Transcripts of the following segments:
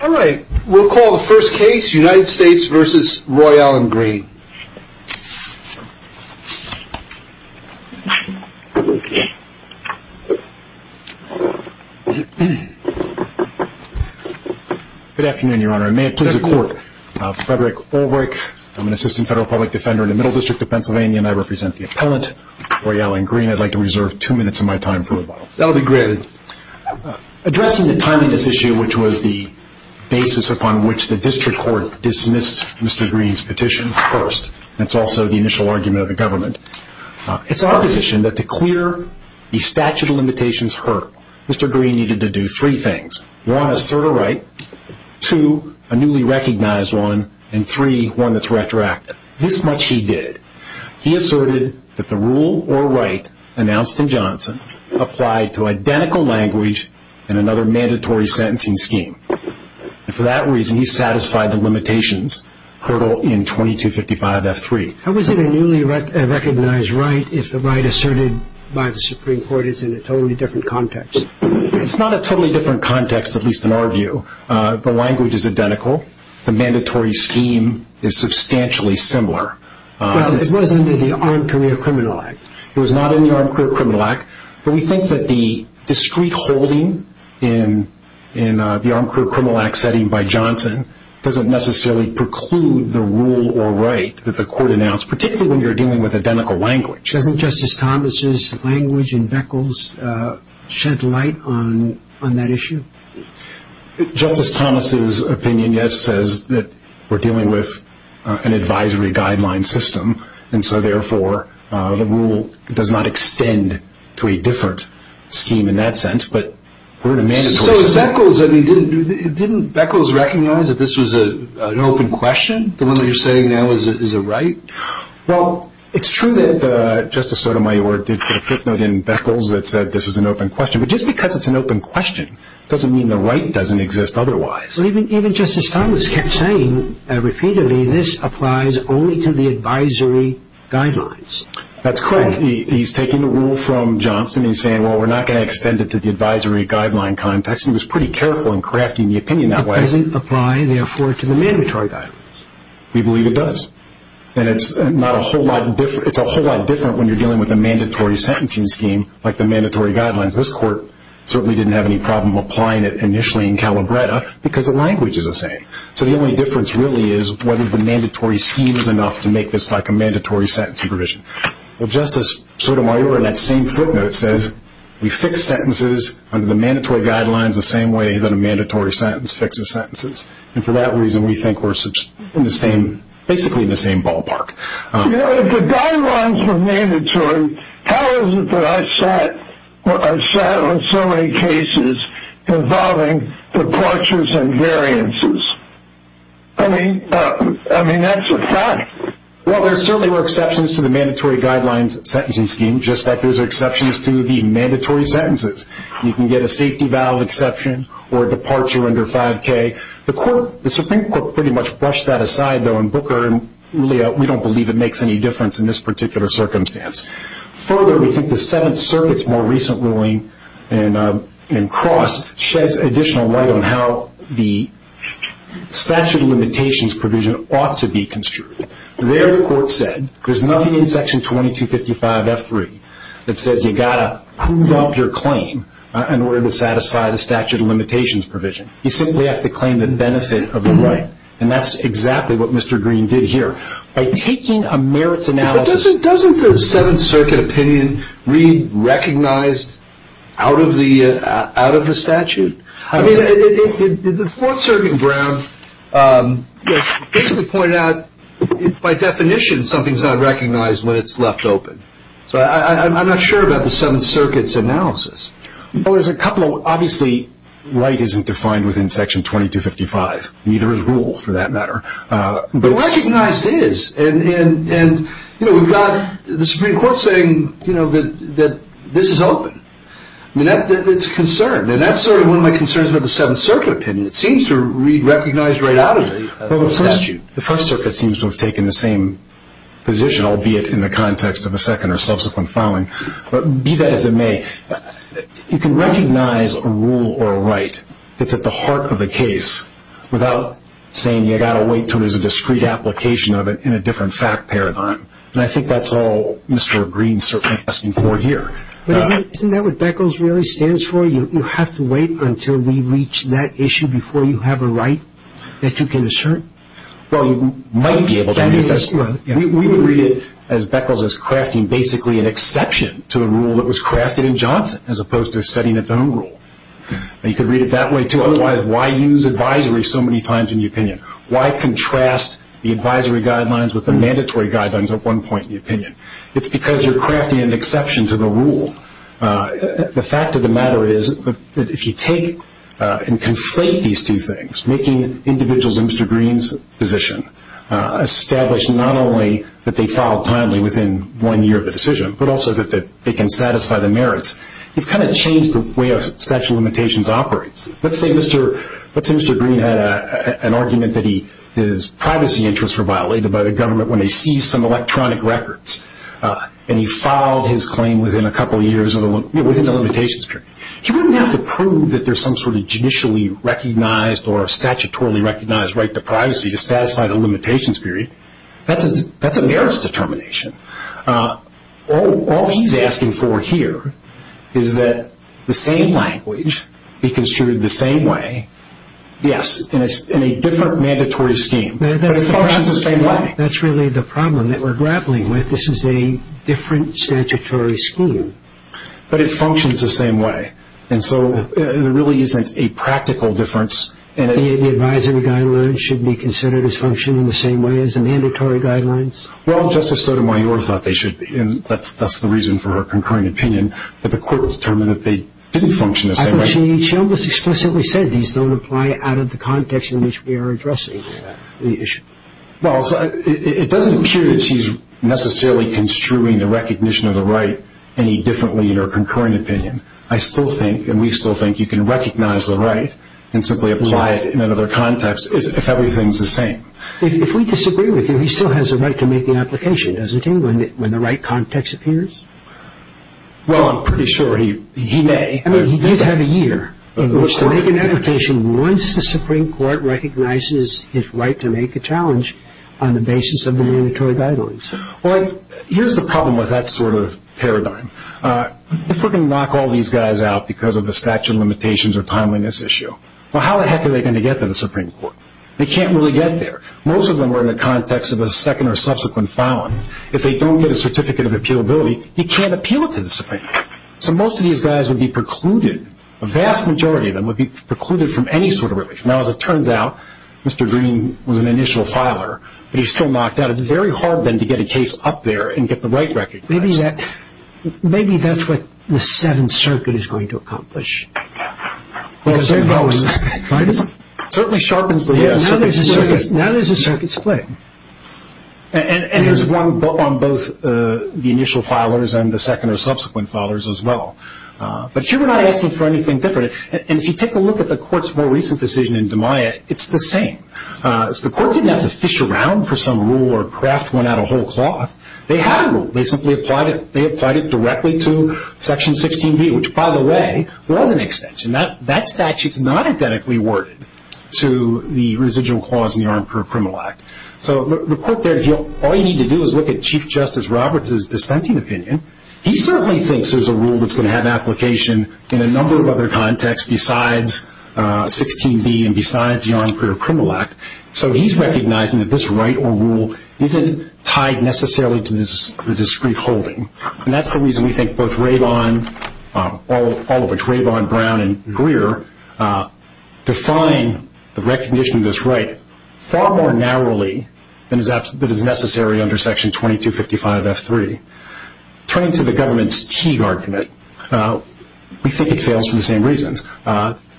All right, we'll call the first case United States v. Roy Allen Green. Good afternoon, Your Honor, and may it please the Court. Frederick Ulrich, I'm an assistant federal public defender in the Middle District of Pennsylvania, and I represent the appellant Roy Allen Green. I'd like to reserve two minutes of my time for rebuttal. That will be granted. Addressing the timeliness issue, which was the basis upon which the District Court dismissed Mr. Green's petition first, and it's also the initial argument of the government, it's our position that to clear the statute of limitations hurt, Mr. Green needed to do three things. One, assert a right. Two, a newly recognized one, and three, one that's retroactive. This much he did. He asserted that the rule or right announced in Johnson applied to identical language and another mandatory sentencing scheme. And for that reason, he satisfied the limitations curtailed in 2255 F3. How is it a newly recognized right if the right asserted by the Supreme Court is in a totally different context? It's not a totally different context, at least in our view. The language is identical. The mandatory scheme is substantially similar. It was under the Armed Career Criminal Act. It was not in the Armed Career Criminal Act, but we think that the discrete holding in the Armed Career Criminal Act setting by Johnson doesn't necessarily preclude the rule or right that the court announced, particularly when you're dealing with identical language. Doesn't Justice Thomas' language in Beckles shed light on that issue? Justice Thomas' opinion, yes, says that we're in an advisory guideline system, and so therefore the rule does not extend to a different scheme in that sense, but we're in a mandatory system. So Beckles, I mean, didn't Beckles recognize that this was an open question, the one that you're saying now is a right? Well, it's true that Justice Sotomayor did put a footnote in Beckles that said this is an open question, but just because it's an open question doesn't mean the right doesn't exist otherwise. Even Justice Thomas kept saying repeatedly this applies only to the advisory guidelines. That's correct. He's taking the rule from Johnson. He's saying, well, we're not going to extend it to the advisory guideline context. He was pretty careful in crafting the opinion that way. It doesn't apply, therefore, to the mandatory guidelines. We believe it does, and it's a whole lot different when you're dealing with a mandatory sentencing scheme like the mandatory guidelines. This court certainly didn't have any problem applying it initially in Calabretta because the language is the same. So the only difference really is whether the mandatory scheme is enough to make this like a mandatory sentencing provision. Well, Justice Sotomayor in that same footnote says we fix sentences under the mandatory guidelines the same way that a mandatory sentence fixes sentences, and for that reason we think we're basically in the same ballpark. You know, if the guidelines were mandatory, how is it that I sat on so many cases involving departures and variances? I mean, that's a fact. Well, there certainly were exceptions to the mandatory guidelines sentencing scheme, just like there's exceptions to the mandatory sentences. You can get a safety valve exception or departure under 5K. The Supreme Court pretty much brushed that aside, though, in Booker, and really we don't believe it makes any difference in this particular circumstance. Further, we think the Seventh Circuit's more recent ruling in Cross sheds additional light on how the statute of limitations provision ought to be construed. There the court said there's nothing in Section 2255F3 that says you've got to prove up your claim in order to satisfy the statute of limitations provision. You simply have to claim the benefit of the right, and that's exactly what Mr. Green did here. By taking a merits analysis Doesn't the Seventh Circuit opinion read recognized out of the statute? The Fourth Circuit in Brown basically pointed out, by definition, something's not recognized when it's left open. So I'm not sure about the Seventh Circuit's analysis. Obviously, right isn't defined within Section 2255. Neither is rule, for that matter. But recognized is, and we've got the Supreme Court saying that this is open. It's a concern, and that's sort of one of my concerns about the Seventh Circuit opinion. It seems to read recognized right out of the statute. The First Circuit seems to have taken the same position, albeit in the context of a second or subsequent filing. But be that as it may, you can recognize a rule or a right that's at the heart of a case without saying you've got to wait until there's a discreet application of it in a different fact paradigm. And I think that's all Mr. Green's certainly asking for here. But isn't that what Beckles really stands for? You have to wait until we reach that issue before you have a right that you can assert? Well, you might be able to. We would read it, as Beckles is crafting, basically an exception to a rule that was otherwise. Why use advisory so many times in the opinion? Why contrast the advisory guidelines with the mandatory guidelines at one point in the opinion? It's because you're crafting an exception to the rule. The fact of the matter is that if you take and conflate these two things, making individuals in Mr. Green's position establish not only that they filed timely within one year of the decision, but also that they can satisfy the merits, you've kind of changed the way a statute of limitations operates. Let's say Mr. Green had an argument that his privacy interests were violated by the government when they seized some electronic records. And he filed his claim within a couple of years, within the limitations period. He wouldn't have to prove that there's some sort of judicially recognized or statutorily recognized right to privacy to satisfy the limitations period. That's a determination. All he's asking for here is that the same language be construed the same way. Yes, in a different mandatory scheme, but it functions the same way. That's really the problem that we're grappling with. This is a different statutory scheme. But it functions the same way. And so there really isn't a practical difference. The advisory guidelines should be considered as functioning the same way as the mandatory guidelines. Well, Justice Sotomayor thought they should be. And that's the reason for her concurring opinion. But the court determined that they didn't function the same way. She almost explicitly said these don't apply out of the context in which we are addressing the issue. Well, it doesn't appear that she's necessarily construing the recognition of the right any differently in her concurring opinion. I still think, and we still think, you can recognize the right and simply apply it in another context if everything's the same. If we disagree with you, he still has the right to make the application, doesn't he, when the right context appears? Well, I'm pretty sure he may. I mean, he does have a year in which to make an application once the Supreme Court recognizes his right to make a challenge on the basis of the mandatory guidelines. Well, here's the problem with that sort of paradigm. If we're going to knock all these guys out because of the statute of limitations or timeliness issue, well, how the heck are they going to get there? Most of them are in the context of a second or subsequent filing. If they don't get a certificate of appealability, you can't appeal it to the Supreme Court. So most of these guys would be precluded, a vast majority of them would be precluded from any sort of relief. Now, as it turns out, Mr. Green was an initial filer, but he's still knocked out. It's very hard then to get a case up there and get the right recognized. Maybe that's what the Seventh Circuit is going to accomplish. Well, it certainly sharpens the wheel. Now there's a circuit to play. And there's one on both the initial filers and the second or subsequent filers as well. But here we're not asking for anything different. And if you take a look at the Court's more recent decision in DiMaia, it's the same. The Court didn't have to fish around for some rule or craft one out of whole cloth. They had a rule. They simply applied it. They applied it directly to Section 16B, which, by the way, was an extension. That statute's not identically worded to the residual clause in the Armed Career Criminal Act. So the Court there, if all you need to do is look at Chief Justice Roberts' dissenting opinion, he certainly thinks there's a rule that's going to have application in a number of other contexts besides 16B and besides the Armed Career Criminal Act. So he's recognizing that this right or rule isn't tied necessarily to the discrete holding. And that's the reason we think both Raybon, all of which, Raybon, Brown, and Greer, define the recognition of this right far more narrowly than is necessary under Section 2255F3. Turning to the government's Teague argument, we think it fails for the same reasons.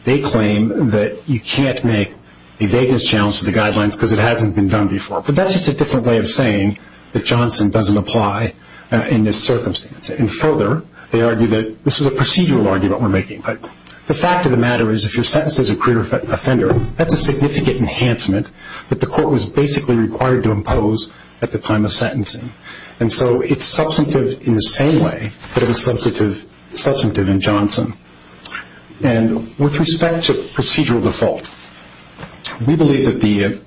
They claim that you can't make a vagueness challenge to the guidelines because it hasn't been done before. But that's just a different way of saying that Johnson doesn't apply in this circumstance. And further, they argue that this is a procedural argument we're making. But the fact of the matter is if you're sentenced as a career offender, that's a significant enhancement that the Court was basically required to impose at the time of sentencing. And so it's substantive in the same way that it was substantive in Johnson. And with respect to procedural default, we believe that the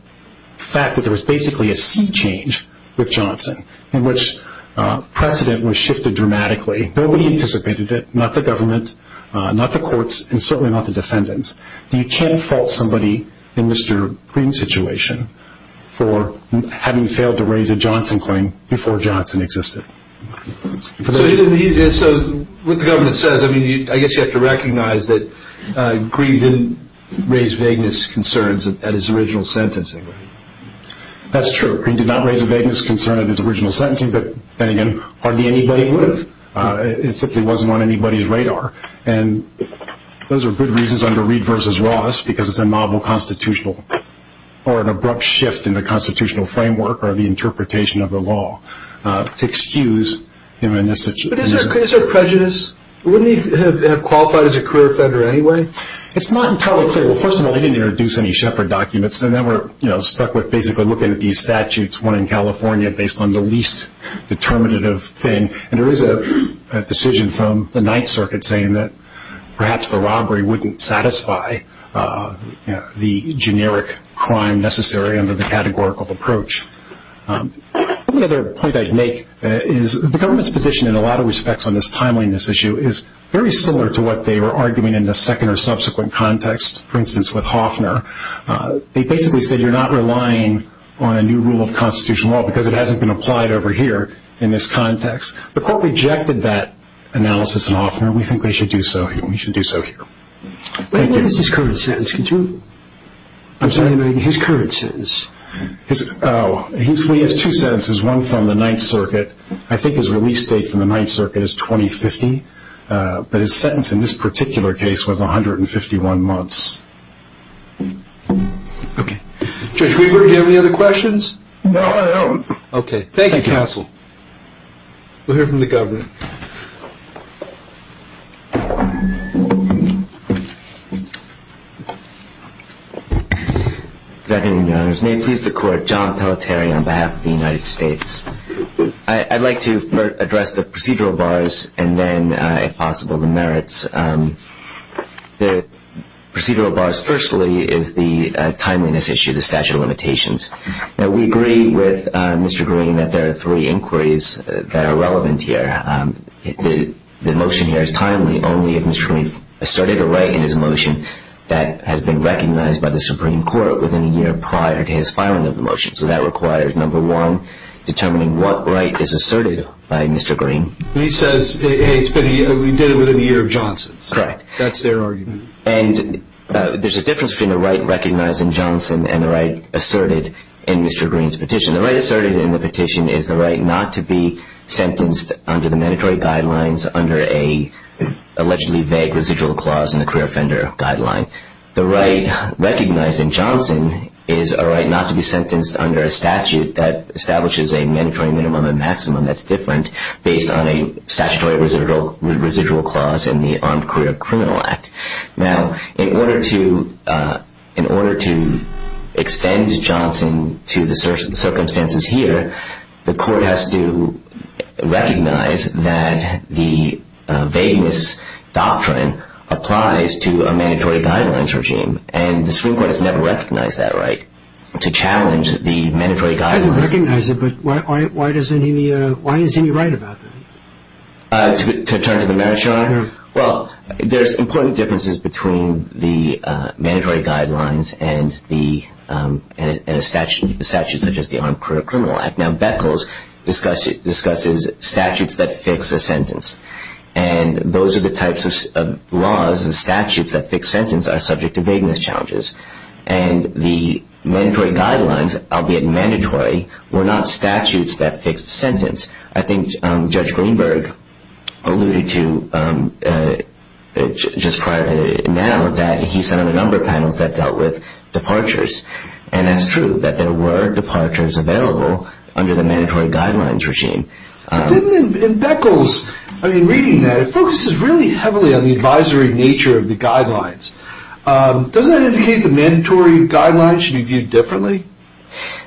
fact that there was basically a sea change with Johnson in which precedent was shifted dramatically, nobody anticipated it, not the government, not the courts, and certainly not the defendants, that you can't fault somebody in Mr. Green's situation for having failed to raise a Johnson claim before Johnson existed. So what the government says, I mean, I guess you have to recognize that Green didn't raise vagueness concerns at his original sentencing. That's true. Green did not raise a vagueness concern at his original sentencing, but then again, hardly anybody would have. It simply wasn't on anybody's radar. And those are good reasons under Reed v. Ross because it's a novel constitutional or an abrupt shift in the institution. But is there prejudice? Wouldn't he have qualified as a career offender anyway? It's not entirely clear. Well, first of all, they didn't introduce any Shepard documents. They never, you know, stuck with basically looking at these statutes, one in California based on the least determinative thing. And there is a decision from the Ninth Circuit saying that perhaps the robbery wouldn't satisfy the generic crime necessary under the categorical approach. One other point I'd make is the government's position in a lot of respects on this timeliness issue is very similar to what they were arguing in the second or subsequent context, for instance, with Hofner. They basically said you're not relying on a new rule of constitutional law because it hasn't been applied over here in this context. The court rejected that analysis in Hofner. We think they should do so here. We should do so here. What is his current sentence? Could you? I'm sorry. His current sentence. Oh, he has two sentences, one from the Ninth Circuit. I think his release date from the Ninth Circuit is 2050. But his sentence in this particular case was 151 months. Okay. Judge Greenberg, do you have any other questions? No, I don't. Okay. Thank you, counsel. We'll hear from the governor. Good afternoon, Your Honors. May it please the Court, John Pelletier on behalf of the United States. I'd like to first address the procedural bars and then, if possible, the merits. The procedural bars, firstly, is the timeliness issue, the statute of limitations. We agree with Mr. Green that there are three inquiries that are relevant here. The motion here is timely only if Mr. Green asserted a right in his motion that has been recognized by the Supreme Court within a year prior to his filing of the motion. So that requires, number one, determining what right is asserted by Mr. Green. He says he did it within a year of Johnson's. Correct. That's their argument. And there's a difference between the right recognized in Johnson and the right asserted in Mr. Green's petition. The right asserted in the petition is the right not to be sentenced under the mandatory guidelines under a allegedly vague residual clause in the career offender guideline. The right recognized in Johnson is a right not to be sentenced under a statute that establishes a mandatory minimum and maximum that's different based on a statutory residual clause in the Armed Career Criminal Act. Now, in order to extend Johnson to the circumstances here, the court has to recognize that the vagueness doctrine applies to a mandatory guidelines regime. And the Supreme Court has never recognized that right to challenge the mandatory guidelines. It doesn't recognize it, but why isn't he right about that? To turn to the matter, Your Honor? Well, there's important differences between the mandatory guidelines and a statute such the Armed Career Criminal Act. Now, Beckles discusses statutes that fix a sentence. And those are the types of laws and statutes that fix sentence are subject to vagueness challenges. And the mandatory guidelines, albeit mandatory, were not statutes that fixed sentence. I think Judge Greenberg alluded to just prior to now that he sat on a number of panels that dealt with available under the mandatory guidelines regime. In Beckles, I mean, reading that, it focuses really heavily on the advisory nature of the guidelines. Doesn't that indicate the mandatory guidelines should be viewed differently?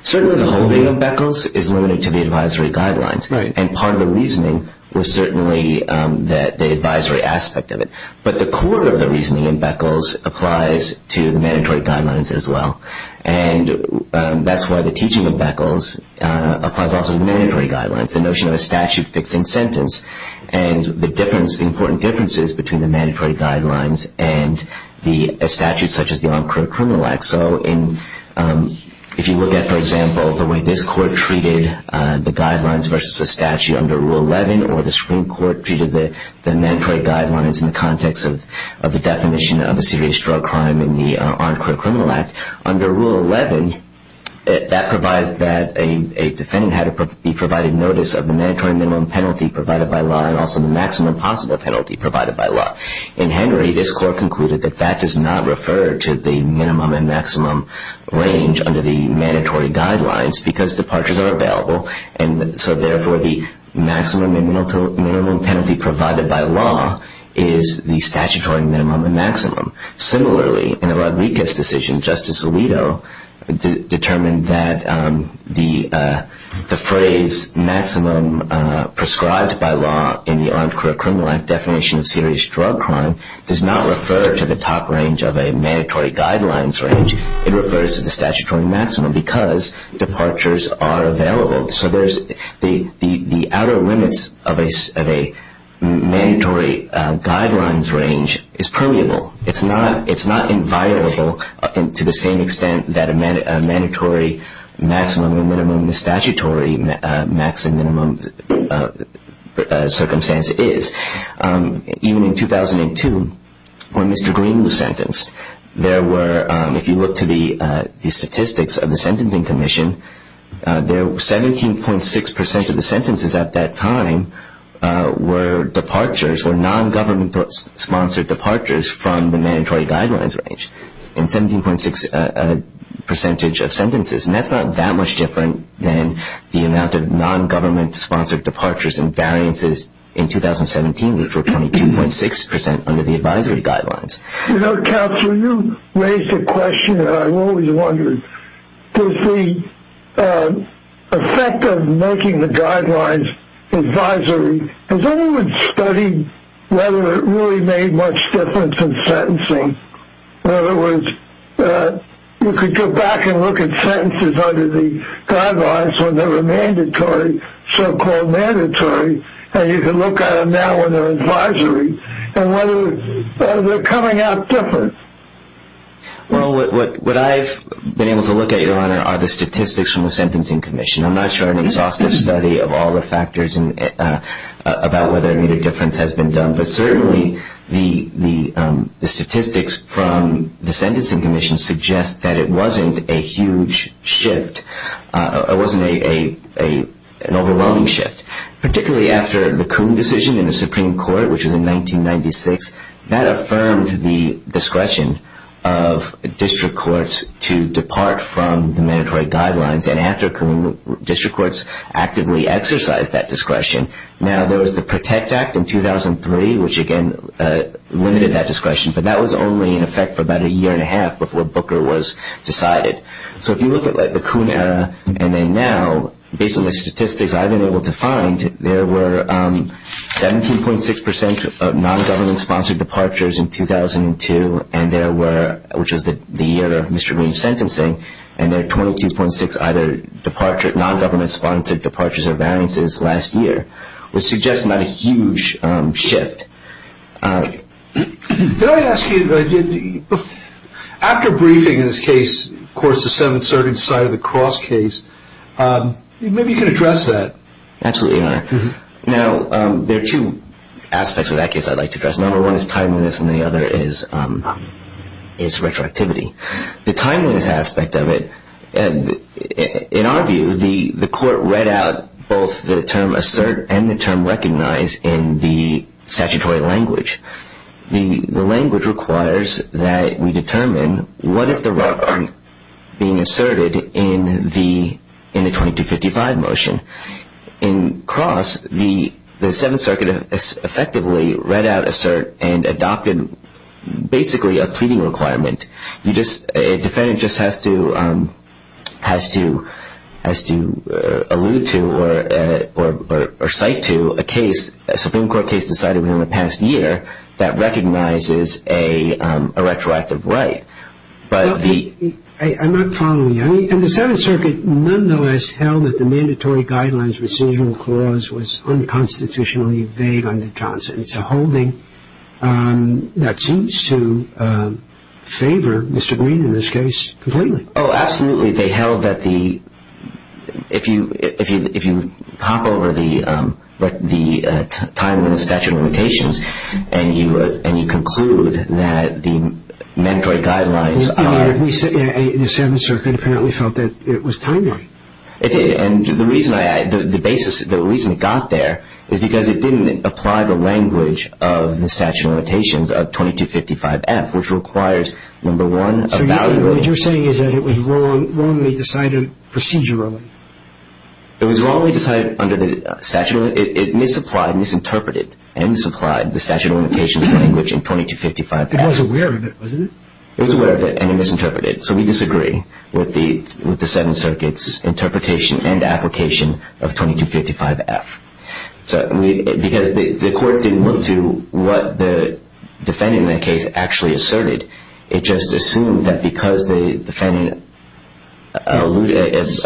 Certainly, the holding of Beckles is limited to the advisory guidelines. And part of the reasoning was certainly the advisory aspect of it. But the core of the Beckles applies also to the mandatory guidelines, the notion of a statute fixing sentence, and the important differences between the mandatory guidelines and the statutes such as the Armed Career Criminal Act. So if you look at, for example, the way this court treated the guidelines versus the statute under Rule 11, or the Supreme Court treated the mandatory guidelines in the context of the definition of a serious drug crime in the Armed Career Criminal Act, under Rule 11, that provides that a defendant had to be provided notice of the mandatory minimum penalty provided by law and also the maximum possible penalty provided by law. In Henry, this court concluded that that does not refer to the minimum and maximum range under the mandatory guidelines because departures are available. And so therefore, the maximum and minimum penalty provided by law is the statutory minimum and maximum. Similarly, in the Rodriguez decision, Justice Alito determined that the phrase maximum prescribed by law in the Armed Career Criminal Act definition of serious drug crime does not refer to the top range of a mandatory guidelines range. It refers to the statutory maximum because departures are available. So the outer limits of a mandatory guidelines range is permeable. It's not inviolable to the same extent that a mandatory maximum or minimum statutory maximum minimum circumstance is. Even in 2002, when Mr. Green was sentenced, there were, if you look to the statistics of the Sentencing Commission, 17.6% of the sentences at that time were departures, were non-government-sponsored departures from the mandatory guidelines range, and 17.6% of sentences. And that's not that much different than the amount of non-government-sponsored departures and variances in 2017, which were 22.6% under the advisory guidelines. You know, Counselor, you raised a question that I've always wondered. Does the effect of making the guidelines advisory, has anyone studied whether it really made much difference in sentencing? In other words, you could go back and look at sentences under the guidelines when they were mandatory, so-called mandatory, and you can look at them when they're advisory and whether they're coming out different. Well, what I've been able to look at, Your Honor, are the statistics from the Sentencing Commission. I'm not sure an exhaustive study of all the factors about whether it made a difference has been done, but certainly the statistics from the Sentencing Commission suggest that it wasn't a huge shift. It wasn't an overwhelming shift, particularly after the Supreme Court, which was in 1996. That affirmed the discretion of district courts to depart from the mandatory guidelines, and after district courts actively exercised that discretion. Now, there was the PROTECT Act in 2003, which again limited that discretion, but that was only in effect for about a year and a half before Booker was decided. So if you look at the Coon era and then now, based on the statistics I've been able to find, there were 17.6% of non-government-sponsored departures in 2002, which was the year of Mr. Green's sentencing, and there were 22.6% of either non-government-sponsored departures or variances last year, which suggests not a huge shift. Did I ask you, after briefing in this case, of course, the 730 side of the cross case, maybe you can address that. Absolutely, Your Honor. Now, there are two aspects of that case I'd like to address. Number one is timeliness, and the other is retroactivity. The timeliness aspect of it, in our view, the court read out both the term assert and the term recognize in the statutory language. The language requires that we determine what if the rug aren't being asserted in the 2255 motion. In cross, the Seventh Circuit effectively read out assert and adopted basically a pleading requirement. A defendant just has to allude to or cite to a Supreme Court case decided within the past year that recognizes a retroactive right. Well, I'm not following you. I mean, and the Seventh Circuit nonetheless held that the mandatory guidelines recisional clause was unconstitutionally vague under Johnson. It's a holding that seems to favor Mr. Green in this case completely. Oh, absolutely. They held that if you hop over the time in the statute of limitations and you conclude that the mandatory guidelines are... I mean, the Seventh Circuit apparently felt that it was timely. It did, and the reason it got there is because it didn't apply the language of the statute of limitations of 2255F, which requires, number one, a valid rule... So what you're saying is that it was wrongly decided procedurally? It was wrongly decided under the statute. It misapplied, misinterpreted, and misapplied the statute of limitations language in 2255F. It was aware of it, wasn't it? It was aware of it, and it misinterpreted. So we disagree with the Seventh Circuit's interpretation and application of 2255F. Because the court didn't look to what the defendant in that case actually asserted, it just assumed that because the defendant is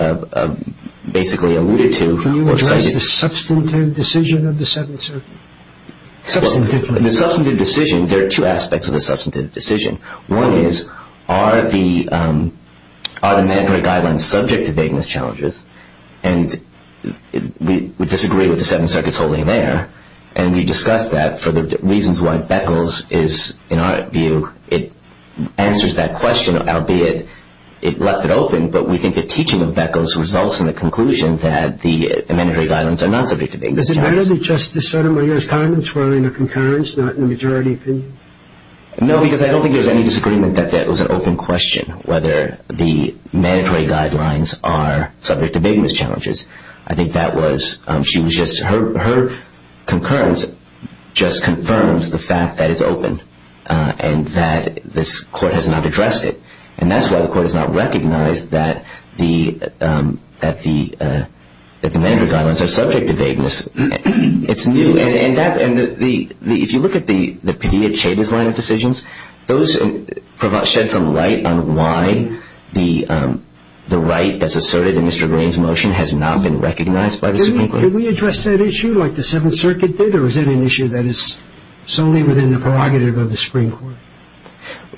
basically alluded to... Can you address the substantive decision of the Seventh Circuit? The substantive decision, there are two aspects of the substantive decision. One is, are the mandatory guidelines subject to vagueness challenges? And we disagree with the Seventh Circuit's holding there. And we discussed that for the reasons why Beckles is, in our view, it answers that open, but we think the teaching of Beckles results in the conclusion that the mandatory guidelines are not subject to vagueness challenges. Does it matter that Justice Sotomayor's comments were in a concurrence, not in a majority opinion? No, because I don't think there's any disagreement that that was an open question, whether the mandatory guidelines are subject to vagueness challenges. I think that was, she was just, her concurrence just confirms the fact that it's open, and that this court has not addressed it. And that's why the court has not recognized that the mandatory guidelines are subject to vagueness. It's new, and if you look at the Padilla-Chavez line of decisions, those shed some light on why the right that's asserted in Mr. Green's motion has not been recognized by the Supreme Court. Can we address that issue like the Seventh Circuit did, or is that an issue that is only within the prerogative of the Supreme Court?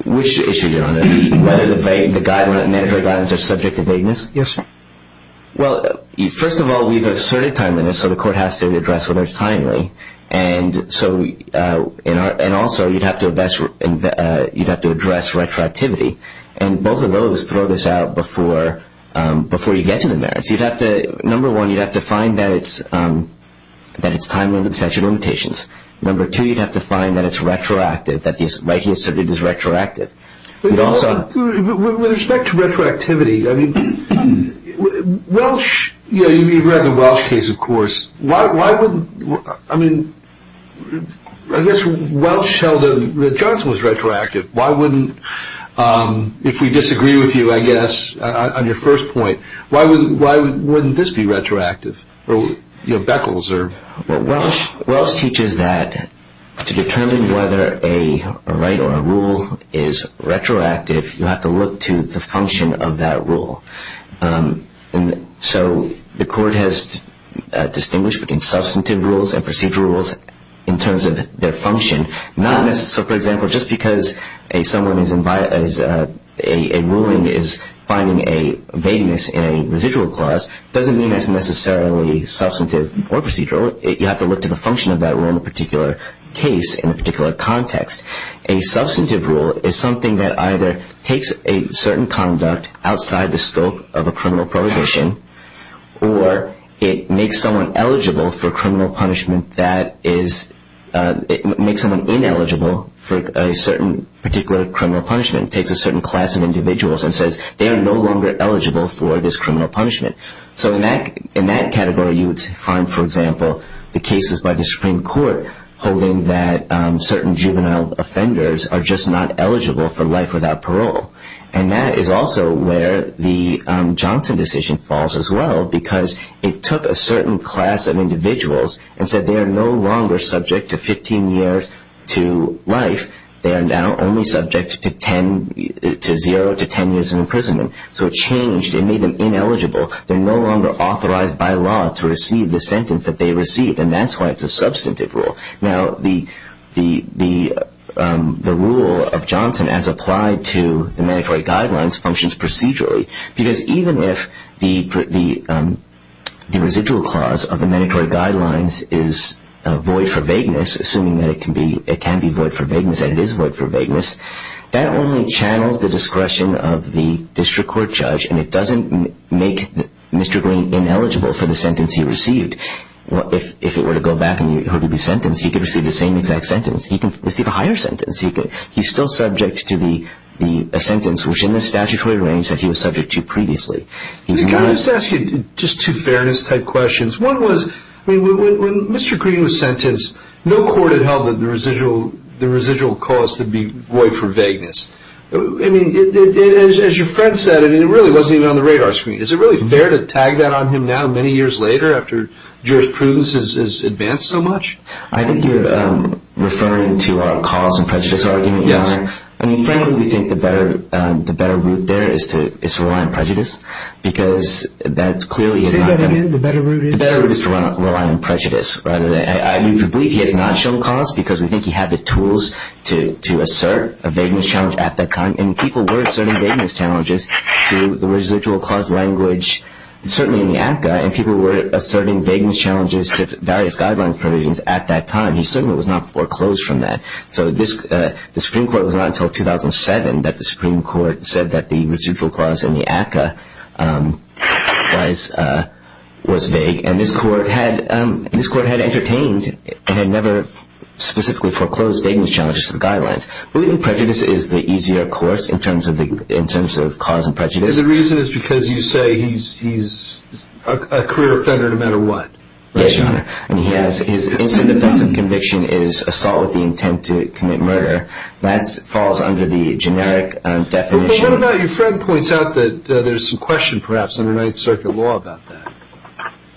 Which issue, Your Honor? Whether the mandatory guidelines are subject to vagueness? Yes, sir. Well, first of all, we've asserted timeliness, so the court has to address whether it's timely. And also, you'd have to address retroactivity. And both of those throw this out before you get to the merits. You'd have to, number one, you'd have to find that it's time-limited statute of limitations. Number two, you'd have to find that it's retroactive, that the right he asserted is retroactive. With respect to retroactivity, I mean, Welsh, you've read the Welsh case, of course, why wouldn't, I mean, I guess Welsh held that Johnson was retroactive. Why wouldn't, if we disagree with you, I guess, on your first point, why wouldn't this be retroactive? Or, you know, Beckles or Welsh? Welsh teaches that to determine whether a right or a rule is retroactive, you have to look to the function of that rule. And so the court has distinguished between substantive rules and procedural rules in terms of their function. Not necessarily, for example, just because a someone is, a ruling is finding a vagueness in a residual clause, doesn't mean that's necessarily substantive or procedural. You have to look to the function of that rule in a particular case, in a particular context. A substantive rule is something that either takes a certain conduct outside the scope of a criminal prohibition, or it makes someone eligible for criminal punishment that is, it makes someone ineligible for a certain particular criminal punishment, takes a certain class of individuals and says, they are no longer eligible for this criminal punishment. So in that category, you would find, for example, the cases by the Supreme Court holding that certain juvenile offenders are just not eligible for life without parole. And that is also where the Johnson decision falls as well, because it took a certain class of individuals and said, they are no longer subject to 15 years to life. They are now only subject to 10, to zero to 10 years in imprisonment. So it changed and made them ineligible. They're no longer authorized by law to receive the sentence that they received. And that's why it's a substantive rule. Now, the rule of Johnson as applied to the mandatory guidelines functions procedurally, because even if the residual clause of the mandatory guidelines is void for vagueness, assuming that it can be void for vagueness and it is void for vagueness, that only channels the discretion of the district court judge, and it doesn't make Mr. Green ineligible for the sentence he received. If it were to go back and he were to be sentenced, he could receive the same exact sentence. He can receive a higher sentence. He's still subject to the sentence, which in the statutory range that he was subject to previously. Can I just ask you just two fairness type questions? One was, when Mr. Green was sentenced, no court had held that the residual clause could be void for vagueness. I mean, as your friend said, I mean, it really wasn't even on the radar screen. Is it really fair to tag that on him now, many years later after jurisprudence has advanced so much? I think you're referring to our cause and prejudice argument. Yes. I mean, frankly, we think the better route there is to rely on prejudice, because that's clearly... Say that again, the better route is? The better route is to rely on prejudice rather than... We believe he has not shown cause, because we think he had the tools to assert a vagueness challenge at that time. And people were asserting vagueness challenges through the residual clause language, certainly in the ACCA. And people were asserting vagueness challenges to various guidelines provisions at that time. He certainly was not foreclosed from that. So the Supreme Court was not until 2007 that the Supreme Court said that the residual clause in the ACCA was vague. And this court had entertained and had never specifically foreclosed vagueness challenges to the guidelines. We believe prejudice is the easier course in terms of cause and prejudice. The reason is because you say he's a career offender no matter what. Yes, Your Honor. And he has... His instant defense of conviction is assault with the intent to commit murder. That falls under the generic definition... But what about... Your friend points out that there's some question, perhaps, under Ninth Circuit law about that.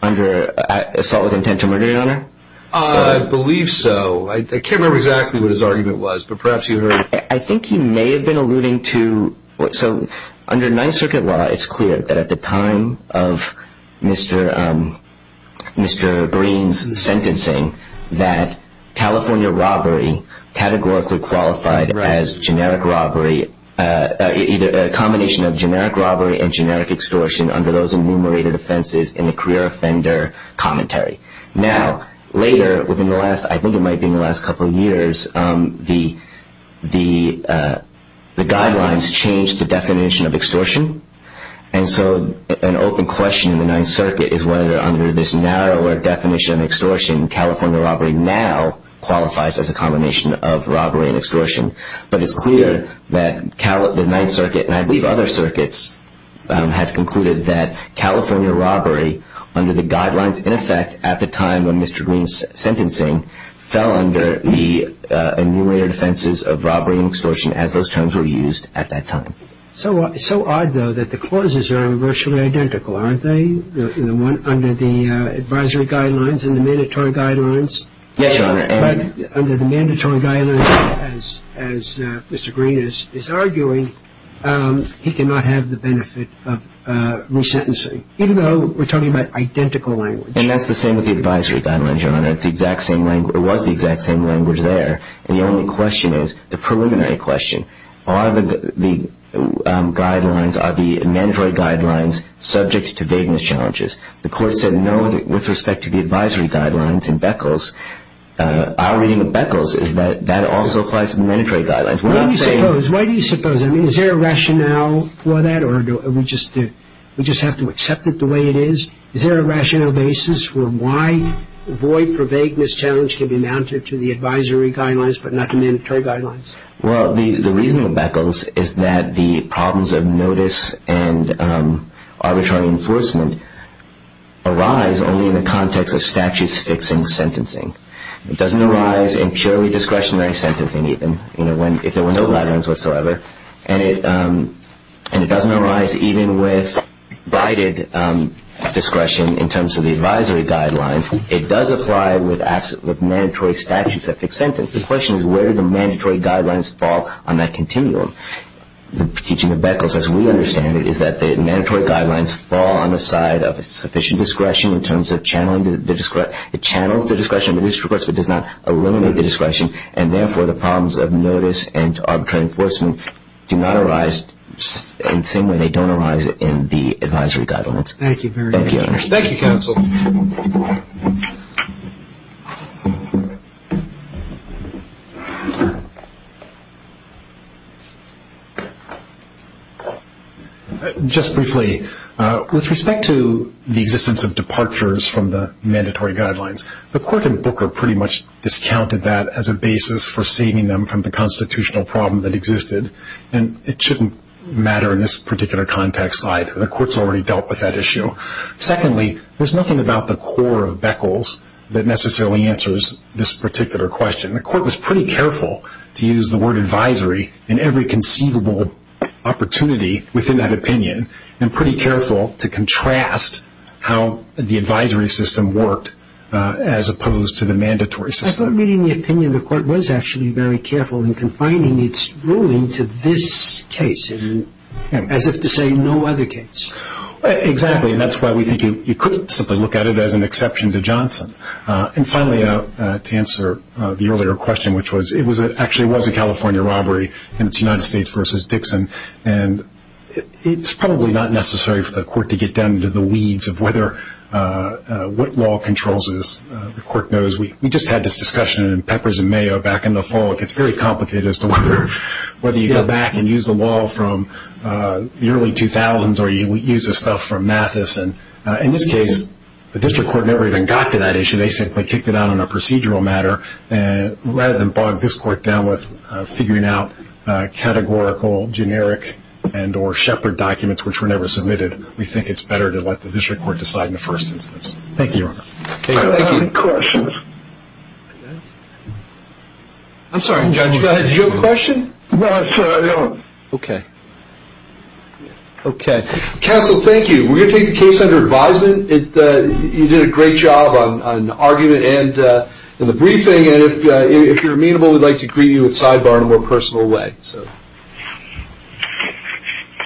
Under assault with intent to murder, Your Honor? I believe so. I can't remember exactly what his argument was, but perhaps you heard... I think he may have been alluding to... So under Ninth Circuit law, it's clear that at the time of Mr. Green's sentencing that California robbery categorically qualified as generic robbery, either a combination of generic robbery and generic extortion under those enumerated offenses in the career offender commentary. Now, later, within the last... I think it might be in the last couple of years, the guidelines changed the definition of extortion. And so an open question in the Ninth Circuit is whether under this narrower definition of extortion, California robbery now qualifies as a combination of robbery and extortion. But it's clear that the Ninth Circuit, and I believe other circuits, had concluded that California robbery under the guidelines, in effect, at the time of Mr. Green's sentencing, fell under the enumerated offenses of robbery and extortion as those terms were used at that time. So odd, though, that the clauses are virtually identical, aren't they? Under the advisory guidelines and the mandatory guidelines? Yes, Your Honor. Under the mandatory guidelines, as Mr. Green is arguing, he cannot have the benefit of resentencing, even though we're talking about identical language. And that's the same with the advisory guidelines, Your Honor. It's the exact same language... It was the exact same language there. And the only question is, the preliminary question, are the guidelines, are the mandatory guidelines subject to vagueness challenges? The Court said no with respect to the advisory guidelines in Beckles. Our reading of Beckles is that that also applies to the mandatory guidelines. We're not saying... Why do you suppose? Is there a rationale for that, or do we just have to accept it the way it is? Is there a rationale basis for why the void for vagueness challenge can be mounted to the advisory guidelines but not the mandatory guidelines? Well, the reasoning of Beckles is that the problems of notice and arbitrary enforcement arise only in the context of statutes-fixing sentencing. It doesn't arise in purely discretionary sentencing, even, if there were no guidelines whatsoever. And it doesn't arise even with bided discretion in terms of the advisory guidelines. It does apply with mandatory statutes that fix sentence. The question is, where do the mandatory guidelines fall on that continuum? The teaching of Beckles, as we understand it, is that the mandatory guidelines fall on the side of sufficient discretion in terms of channeling the discretion. It channels the discretion, but it does not eliminate the discretion. And therefore, the problems of notice and arbitrary enforcement do not arise in the same way they don't arise in the advisory guidelines. Thank you very much. Thank you, counsel. Just briefly, with respect to the existence of departures from the mandatory guidelines, the court in Booker pretty much discounted that as a basis for saving them from the constitutional problem that existed. And it shouldn't matter in this particular context either. The court's already dealt with that issue. Secondly, there's nothing about the core of Beckles that necessarily answers this particular question. The court was pretty careful to use the word advisory in every conceivable opportunity within that opinion and pretty careful to contrast how the advisory system worked as opposed to the mandatory system. I thought reading the opinion, the court was actually very careful in confining its ruling to this case as if to say no other case. Exactly. And that's why we think you could simply look at it as an exception to Johnson. And finally, to answer the earlier question, which was it actually was a California robbery and it's United States versus Dixon. And it's probably not necessary for the court to get down into the weeds of what law controls this. The court knows. We just had this discussion in Peppers and Mayo back in the fall. It gets very complicated as to whether you go back and use the law from the early 2000s or you use the stuff from Mathis. And in this case, the district court never even got to that issue. They simply kicked it out on a procedural matter. And rather than bog this court down with figuring out categorical, generic, and or shepherd documents, which were never submitted, we think it's better to let the district court decide in the first instance. Thank you, Your Honor. I have a question. I'm sorry, Judge, did you have a question? No, I'm sorry, I don't. Okay. Okay. Counsel, thank you. We're going to take the case under advisement. You did a great job on argument and in the briefing. And if you're amenable, we'd like to greet you with sidebar in a more personal way.